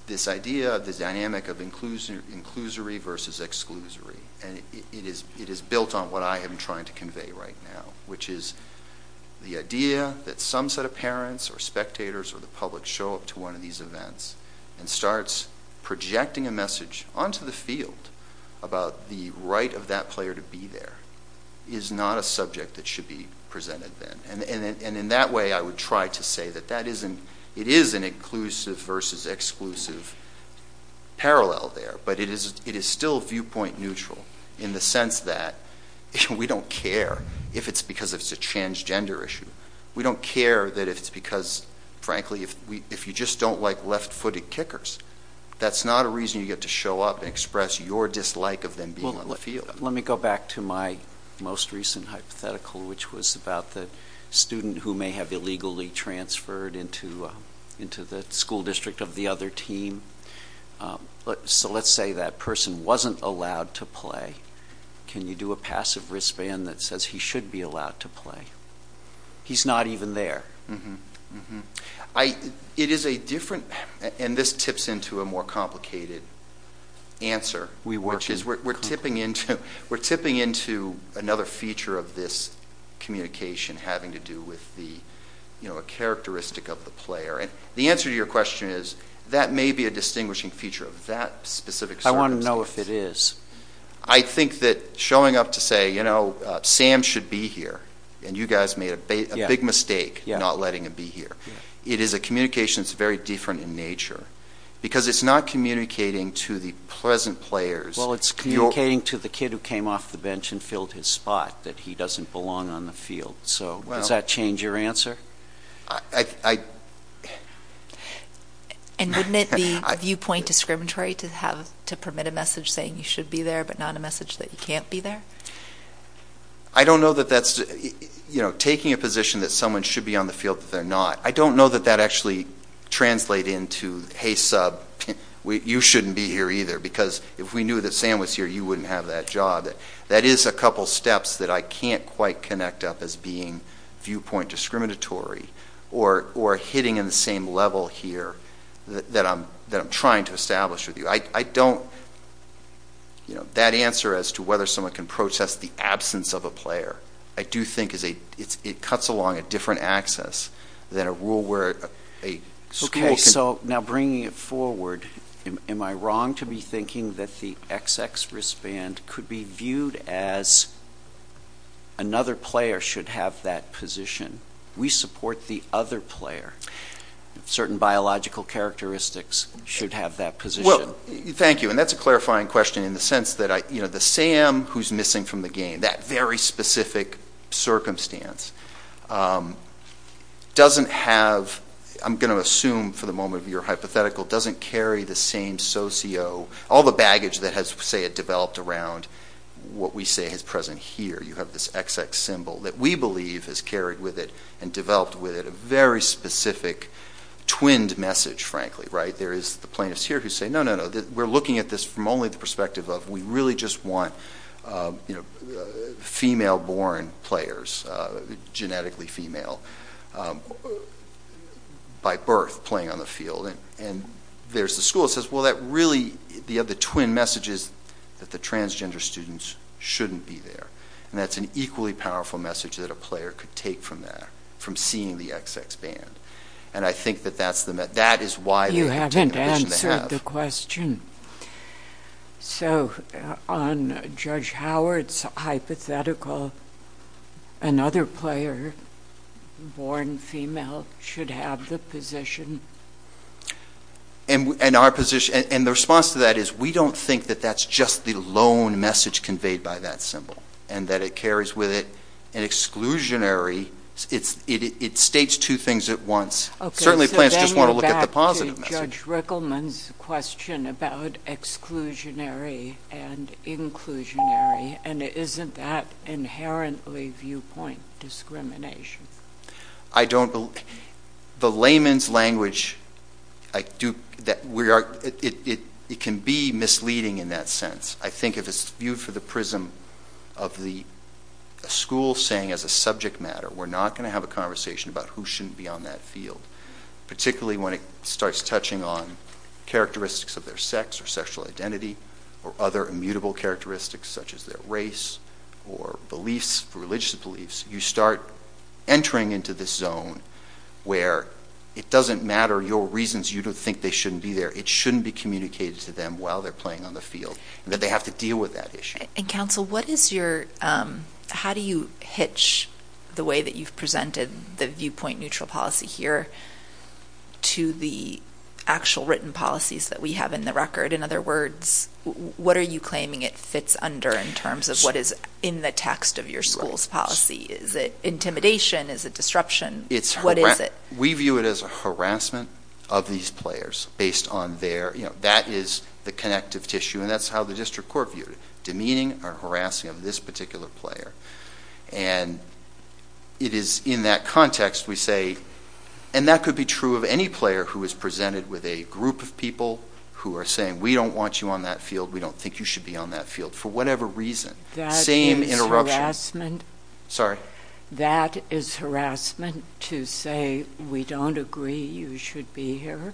this idea of the dynamic of inclusory versus exclusory, and it is built on what I am trying to convey right now, which is the idea that some set of parents or spectators or the public show up to one of these events and starts projecting a message onto the field about the right of that player to be there is not a subject that should be presented then. And in that way, I would try to say that it is an inclusive versus exclusive parallel there. But it is still viewpoint neutral in the sense that we don't care if it's because it's a transgender issue. We don't care that it's because, frankly, if you just don't like left-footed kickers, that's not a reason you get to show up and express your dislike of them being on the Let me go back to my most recent hypothetical, which was about the student who may have illegally transferred into the school district of the other team. So let's say that person wasn't allowed to play. Can you do a passive wristband that says he should be allowed to play? He's not even there. It is a different, and this tips into a more complicated answer, which is we're tipping into another feature of this communication having to do with the characteristic of the player. And the answer to your question is that may be a distinguishing feature of that specific circumstance. I want to know if it is. I think that showing up to say, you know, Sam should be here. And you guys made a big mistake not letting him be here. It is a communication that's very different in nature. Because it's not communicating to the present players. Well, it's communicating to the kid who came off the bench and filled his spot that he doesn't belong on the field. So does that change your answer? And wouldn't it be viewpoint discriminatory to permit a message saying you should be there but not a message that you can't be there? I don't know that that's, you know, taking a position that someone should be on the field that they're not. I don't know that that actually translates into, hey, sub, you shouldn't be here either. Because if we knew that Sam was here, you wouldn't have that job. That is a couple of steps that I can't quite connect up as being viewpoint discriminatory or hitting in the same level here that I'm trying to establish with you. I don't, you know, that answer as to whether someone can protest the absence of a player, I do think it cuts along a different axis than a rule where a school can. Now bringing it forward, am I wrong to be thinking that the XX wristband could be viewed as another player should have that position? We support the other player. Certain biological characteristics should have that position. Thank you. And that's a clarifying question in the sense that, you know, the Sam who's missing from the game, that very specific circumstance, doesn't have, I'm going to assume for the hypothetical, doesn't carry the same socio, all the baggage that has, say, developed around what we say is present here. You have this XX symbol that we believe has carried with it and developed with it a very specific twinned message, frankly, right? There is the plaintiffs here who say, no, no, no, we're looking at this from only the perspective of we really just want, you know, female born players, genetically female, by birth, playing on the field. And there's the school that says, well, that really, the other twin message is that the transgender students shouldn't be there. And that's an equally powerful message that a player could take from that, from seeing the XX band. And I think that that's the, that is why they have taken the position they have. You haven't answered the question. So, on Judge Howard's hypothetical, another player, born female, should have the position? And our position, and the response to that is we don't think that that's just the lone message conveyed by that symbol, and that it carries with it an exclusionary, it states two things at once. Certainly, the plaintiffs just want to look at the positive message. Judge Rickleman's question about exclusionary and inclusionary, and isn't that inherently viewpoint discrimination? I don't, the layman's language, I do, that we are, it can be misleading in that sense. I think if it's viewed for the prism of the school saying as a subject matter, we're not going to have a conversation about who shouldn't be on that field, particularly when it starts touching on characteristics of their sex or sexual identity, or other immutable characteristics such as their race, or beliefs, religious beliefs, you start entering into this zone where it doesn't matter your reasons you don't think they shouldn't be there, it shouldn't be communicated to them while they're playing on the field, and that they have to deal with that issue. And counsel, what is your, how do you hitch the way that you've presented the viewpoint neutral policy here to the actual written policies that we have in the record? In other words, what are you claiming it fits under in terms of what is in the text of your school's policy? Is it intimidation? Is it disruption? What is it? We view it as a harassment of these players based on their, you know, that is the connective tissue and that's how the district court viewed it, demeaning or harassing of this particular player. And it is in that context we say, and that could be true of any player who is presented with a group of people who are saying, we don't want you on that field, we don't think you should be on that field, for whatever reason, same interruption. Sorry? That is harassment to say we don't agree you should be here?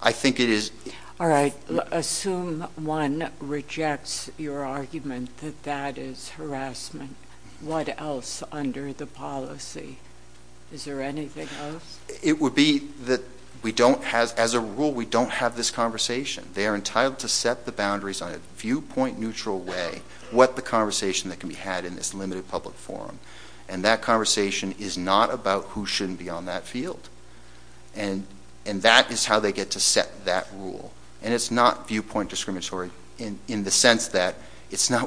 I think it is. All right. Assume one rejects your argument that that is harassment. What else under the policy? Is there anything else? It would be that we don't have, as a rule, we don't have this conversation. They are entitled to set the boundaries on a viewpoint neutral way, what the conversation that can be had in this limited public forum. And that conversation is not about who shouldn't be on that field. And that is how they get to set that rule. And it is not viewpoint discriminatory in the sense that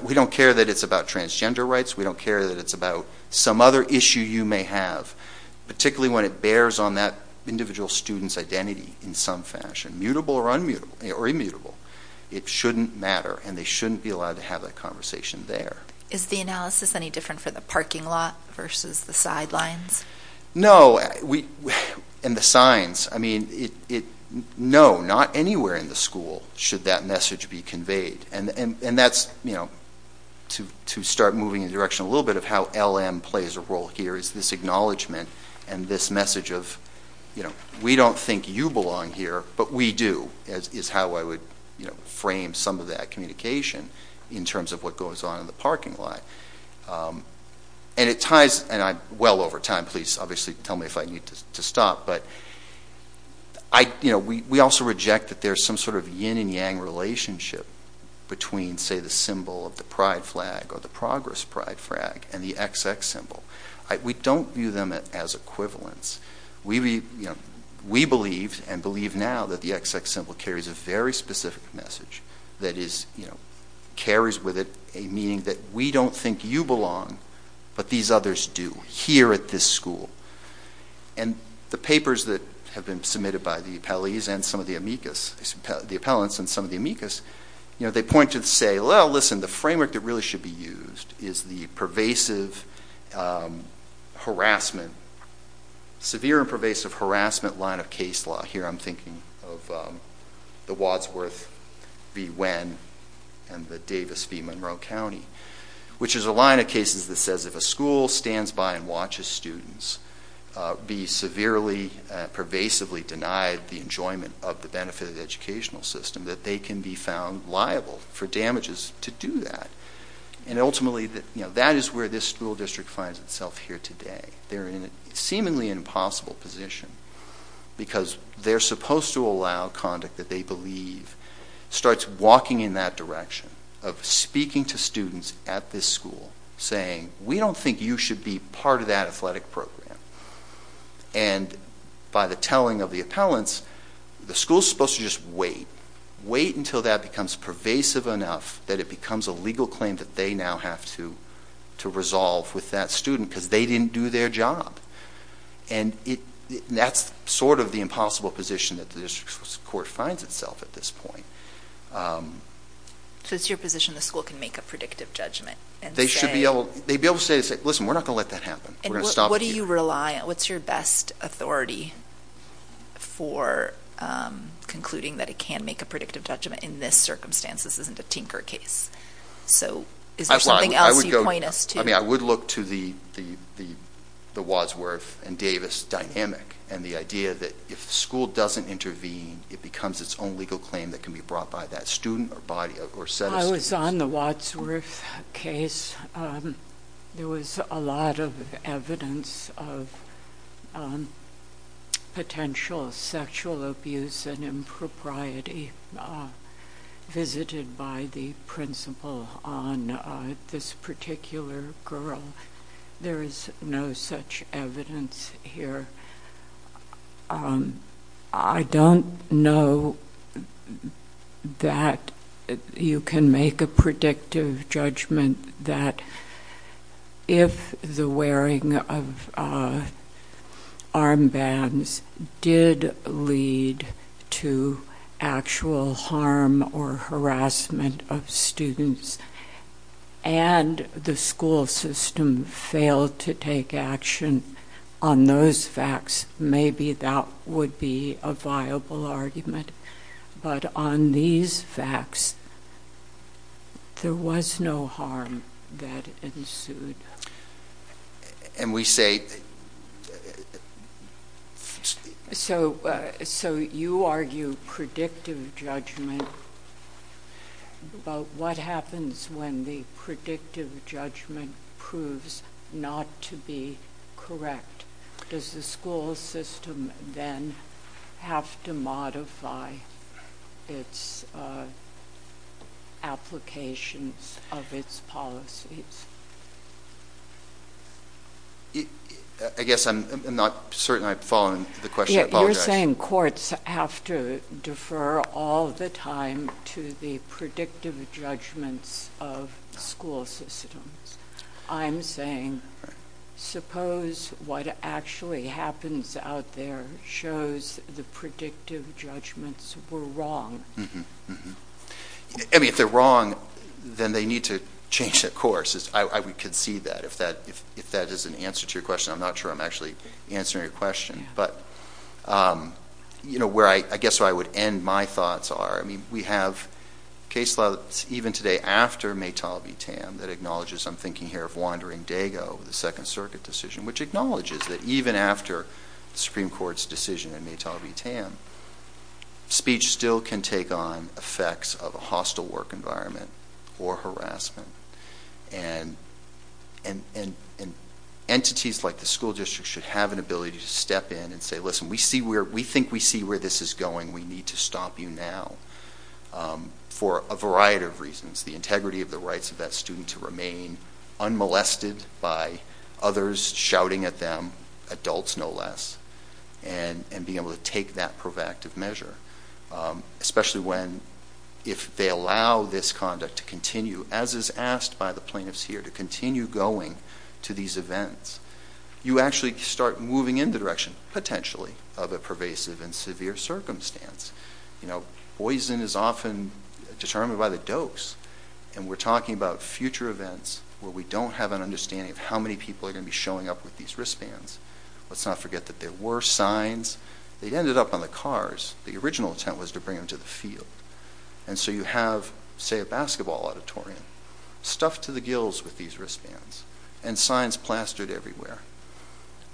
we don't care that it is about transgender rights. We don't care that it is about some other issue you may have, particularly when it bears on that individual student's identity in some fashion, mutable or immutable. It shouldn't matter and they shouldn't be allowed to have that conversation there. Is the analysis any different for the parking lot versus the sidelines? No. And the signs, I mean, no, not anywhere in the school should that message be conveyed. And that's, you know, to start moving in the direction a little bit of how LM plays a role here is this acknowledgement and this message of, you know, we don't think you belong here, but we do, is how I would, you know, frame some of that communication in terms of what goes on in the parking lot. And it ties, and I'm well over time, please obviously tell me if I need to stop, but I, you know, we also reject that there's some sort of yin and yang relationship between, say, the symbol of the pride flag or the progress pride flag and the XX symbol. We don't view them as equivalents. We believe, and believe now, that the XX symbol carries a very specific message that is, you know, we don't think you belong, but these others do here at this school. And the papers that have been submitted by the appellees and some of the amicus, the appellants and some of the amicus, you know, they point to say, well, listen, the framework that really should be used is the pervasive harassment, severe and pervasive harassment line of case law. Here I'm thinking of the Wadsworth v. Winn and the Davis v. Monroe County, which is a line of cases that says if a school stands by and watches students be severely, pervasively denied the enjoyment of the benefit of the educational system, that they can be found liable for damages to do that. And ultimately, you know, that is where this school district finds itself here today. They're in a seemingly impossible position because they're supposed to allow conduct that they believe starts walking in that direction of speaking to students at this school saying, we don't think you should be part of that athletic program. And by the telling of the appellants, the school's supposed to just wait, wait until that becomes pervasive enough that it becomes a legal claim that they now have to resolve with that student because they didn't do their job. And that's sort of the impossible position that the district's court finds itself at this point. So it's your position the school can make a predictive judgment and say? They should be able to say, listen, we're not going to let that happen. What do you rely on? What's your best authority for concluding that it can make a predictive judgment in this circumstance? This isn't a tinker case. So is there something else you point us to? I mean, I would look to the Wadsworth and Davis dynamic and the idea that if the school doesn't intervene, it becomes its own legal claim that can be brought by that student or set of students. I was on the Wadsworth case. There was a lot of evidence of potential sexual abuse and impropriety visited by the principal on this particular girl. There is no such evidence here. I don't know that you can make a predictive judgment that if the wearing of armbands did lead to actual harm or harassment of students and the school system failed to take action on those facts, maybe that would be a viable argument. But on these facts, there was no harm that ensued. And we say... So you argue predictive judgment, but what happens when the predictive judgment proves not to be correct? Does the school system then have to modify its applications of its policies? I guess I'm not certain I'm following the question. You're saying courts have to defer all the time to the predictive judgments of school systems. I'm saying, suppose what actually happens out there shows the predictive judgments were wrong. If they're wrong, then they need to change that course. I would concede that if that is an answer to your question. I'm not sure I'm actually answering your question. But I guess where I would end my thoughts are, we have case law even today after Maytala v. Tam that acknowledges, I'm thinking here of Wandering Dago, the Second Circuit decision, which acknowledges that even after the Supreme Court's decision in Maytala v. Tam, speech still can take on effects of a hostile work environment or harassment. And entities like the school district should have an ability to step in and say, listen, we think we see where this is going. We need to stop you now. For a variety of reasons. The integrity of the rights of that student to remain unmolested by others shouting at them, adults no less, and be able to take that proactive measure. Especially if they allow this conduct to continue, as is asked by the plaintiffs here, to continue going to these events. You actually start moving in the direction, potentially, of a pervasive and severe circumstance. Poison is often determined by the dose. And we're talking about future events where we don't have an understanding of how many people are going to be showing up with these wristbands. Let's not forget that there were signs. They ended up on the cars. The original intent was to bring them to the field. And so you have, say, a basketball auditorium, stuffed to the gills with these wristbands. And signs plastered everywhere.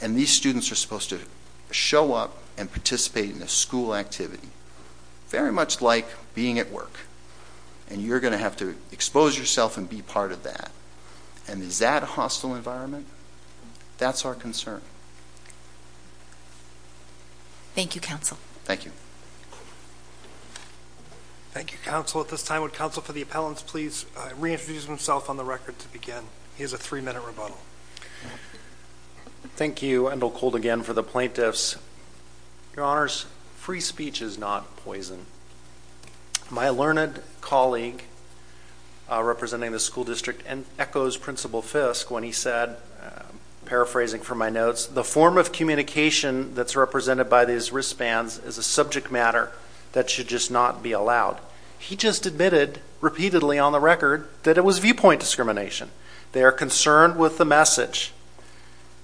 And these students are supposed to show up and participate in a school activity. Very much like being at work. And you're going to have to expose yourself and be part of that. And is that a hostile environment? That's our concern. Thank you, Counsel. Thank you. Thank you, Counsel. At this time, would Counsel for the Appellants please reintroduce himself on the record to begin? He has a three-minute rebuttal. Thank you, Endel Kold, again, for the plaintiffs. Your Honors, free speech is not poison. My learned colleague, representing the school district, and echoes Principal Fiske when he said, paraphrasing from my notes, the form of communication that's represented by these wristbands is a subject matter that should just not be allowed. He just admitted repeatedly on the record that it was viewpoint discrimination. They are concerned with the message.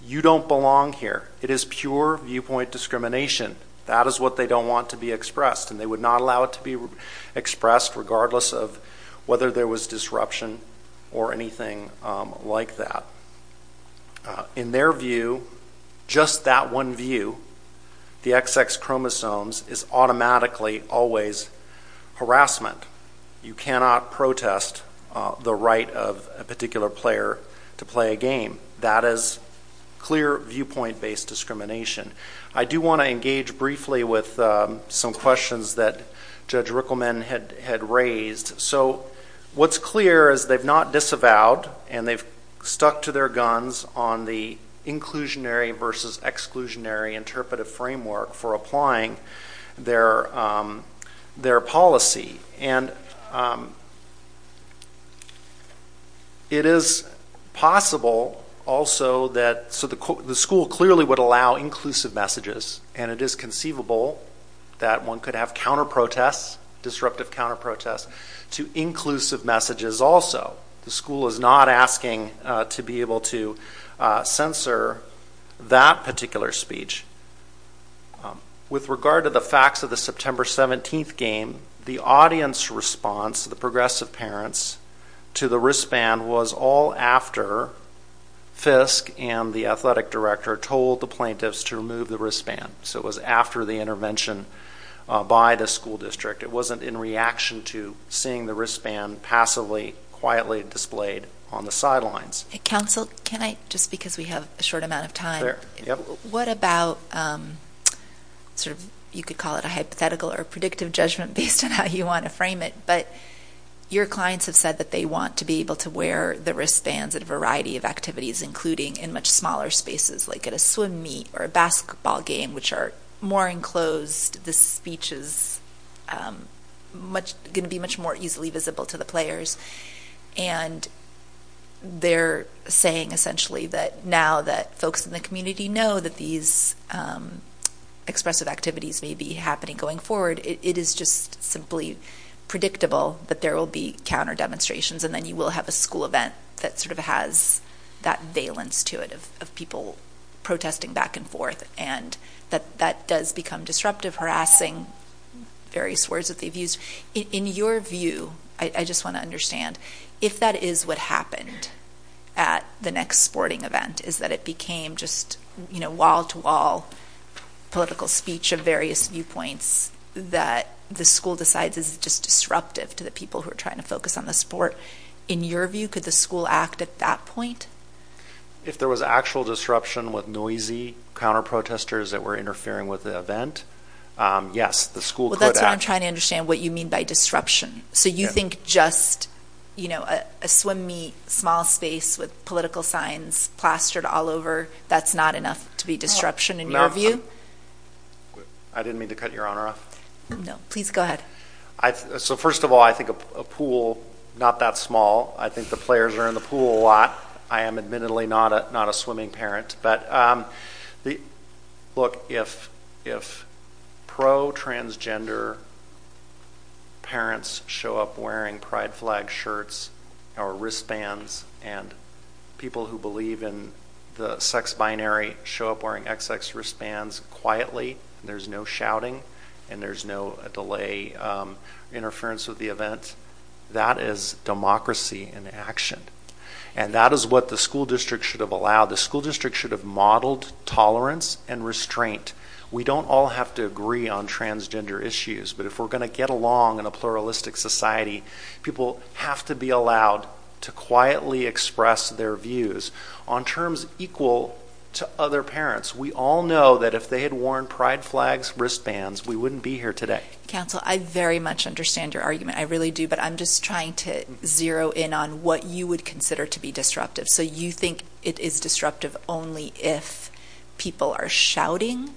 You don't belong here. It is pure viewpoint discrimination. That is what they don't want to be expressed, and they would not allow it to be expressed regardless of whether there was disruption or anything like that. In their view, just that one view, the XX chromosomes is automatically always harassment. You cannot protest the right of a particular player to play a game. That is clear viewpoint-based discrimination. I do want to engage briefly with some questions that Judge Rickleman had raised. So what's clear is they've not disavowed, and they've stuck to their guns on the inclusionary versus exclusionary interpretive framework for applying their policy. It is possible, also, so the school clearly would allow inclusive messages, and it is conceivable that one could have counter-protests, disruptive counter-protests, to inclusive messages also. The school is not asking to be able to censor that particular speech. With regard to the facts of the September 17th game, the audience response, the progressive parents, to the wristband was all after Fisk and the athletic director told the plaintiffs to remove the wristband. So it was after the intervention by the school district. It wasn't in reaction to seeing the wristband passively, quietly displayed on the sidelines. Counsel, just because we have a short amount of time, what about, you could call it a hypothetical or predictive judgment based on how you want to frame it, but your clients have said that they want to be able to wear the wristbands at a variety of activities, including in much smaller spaces, like at a swim meet or a basketball game, which are more enclosed. The speech is going to be much more easily visible to the players. And they're saying, essentially, that now that folks in the community know that these expressive activities may be happening going forward, it is just simply predictable that there will be counter-demonstrations and then you will have a school event that sort of has that valence to it of people protesting back and forth, and that that does become disruptive, harassing various words that they've used. In your view, I just want to understand, if that is what happened at the next sporting event, is that it became just wall-to-wall political speech of various viewpoints that the school decides is just disruptive to the people who are trying to focus on the sport. In your view, could the school act at that point? If there was actual disruption with noisy counter-protesters that were interfering with the event, yes, the school could act. Well, that's what I'm trying to understand, what you mean by disruption. So you think just a swim meet, small space with political signs plastered all over, that's not enough to be disruption in your view? I didn't mean to cut your honor off. No, please go ahead. First of all, I think a pool, not that small. I think the players are in the pool a lot. I am admittedly not a swimming parent. Look, if pro-transgender parents show up wearing pride flag shirts or wristbands and people who believe in the sex binary show up wearing XX wristbands quietly, there's no shouting, and there's no delay interference with the event, that is democracy in action. And that is what the school district should have allowed. The school district should have modeled tolerance and restraint. We don't all have to agree on transgender issues, but if we're going to get along in a pluralistic society, people have to be allowed to quietly express their views on terms equal to other parents. We all know that if they had worn pride flags, wristbands, we wouldn't be here today. Counsel, I very much understand your argument, I really do, but I'm just trying to zero in on what you would consider to be disruptive. So you think it is disruptive only if people are shouting?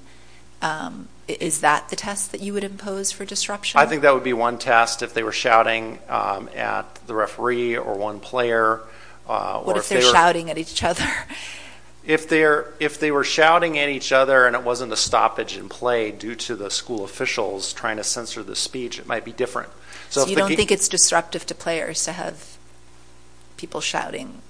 Is that the test that you would impose for disruption? I think that would be one test if they were shouting at the referee or one player. What if they're shouting at each other? If they were shouting at each other and it wasn't a stoppage in play due to the school officials trying to censor the speech, it might be different. So you don't think it's disruptive to players to have people shouting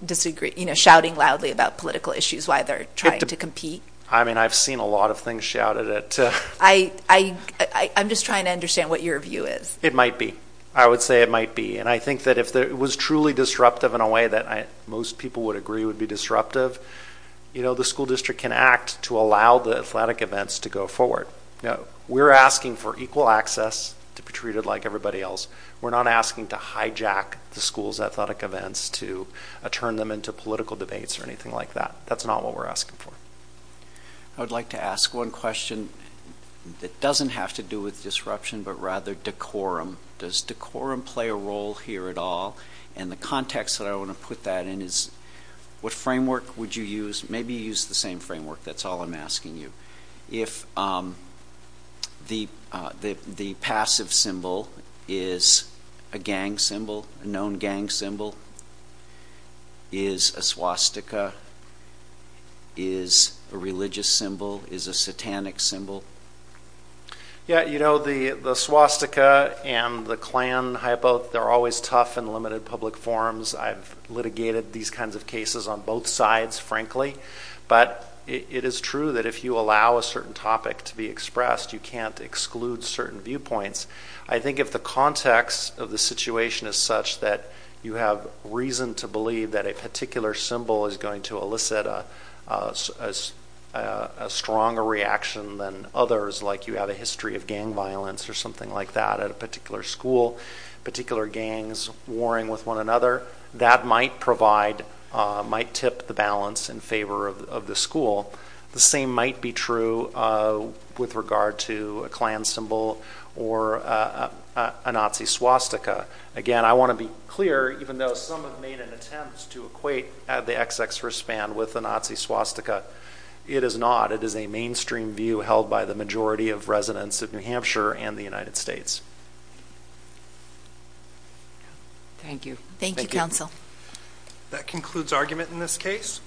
loudly about political issues while they're trying to compete? I mean, I've seen a lot of things shouted at. I'm just trying to understand what your view is. It might be. I would say it might be. And I think that if it was truly disruptive in a way that most people would agree would be disruptive, the school district can act to allow the athletic events to go forward. We're asking for equal access to be treated like everybody else. We're not asking to hijack the school's athletic events to turn them into political debates or anything like that. That's not what we're asking for. I would like to ask one question that doesn't have to do with disruption, but rather decorum. Does decorum play a role here at all? And the context that I want to put that in is what framework would you use? Maybe use the same framework. That's all I'm asking you. If the passive symbol is a gang symbol, a known gang symbol, is a swastika, is a religious symbol, is a satanic symbol? Yeah, you know, the swastika and the Klan hypo, they're always tough in limited public forums. I've litigated these kinds of cases on both sides, frankly. But it is true that if you allow a certain topic to be expressed, you can't exclude certain viewpoints. I think if the context of the situation is such that you have reason to believe that a particular symbol is going to elicit a stronger reaction than others, like you have a history of gang violence or something like that at a particular school, particular gangs warring with one another, that might provide, might tip the balance in favor of the school. The same might be true with regard to a Klan symbol or a Nazi swastika. Again, I want to be clear, even though some have made an attempt to equate the XXRist band with a Nazi swastika, it is not. It is a mainstream view held by the majority of residents of New Hampshire and the United States. Thank you. Thank you, Counsel. That concludes argument in this case.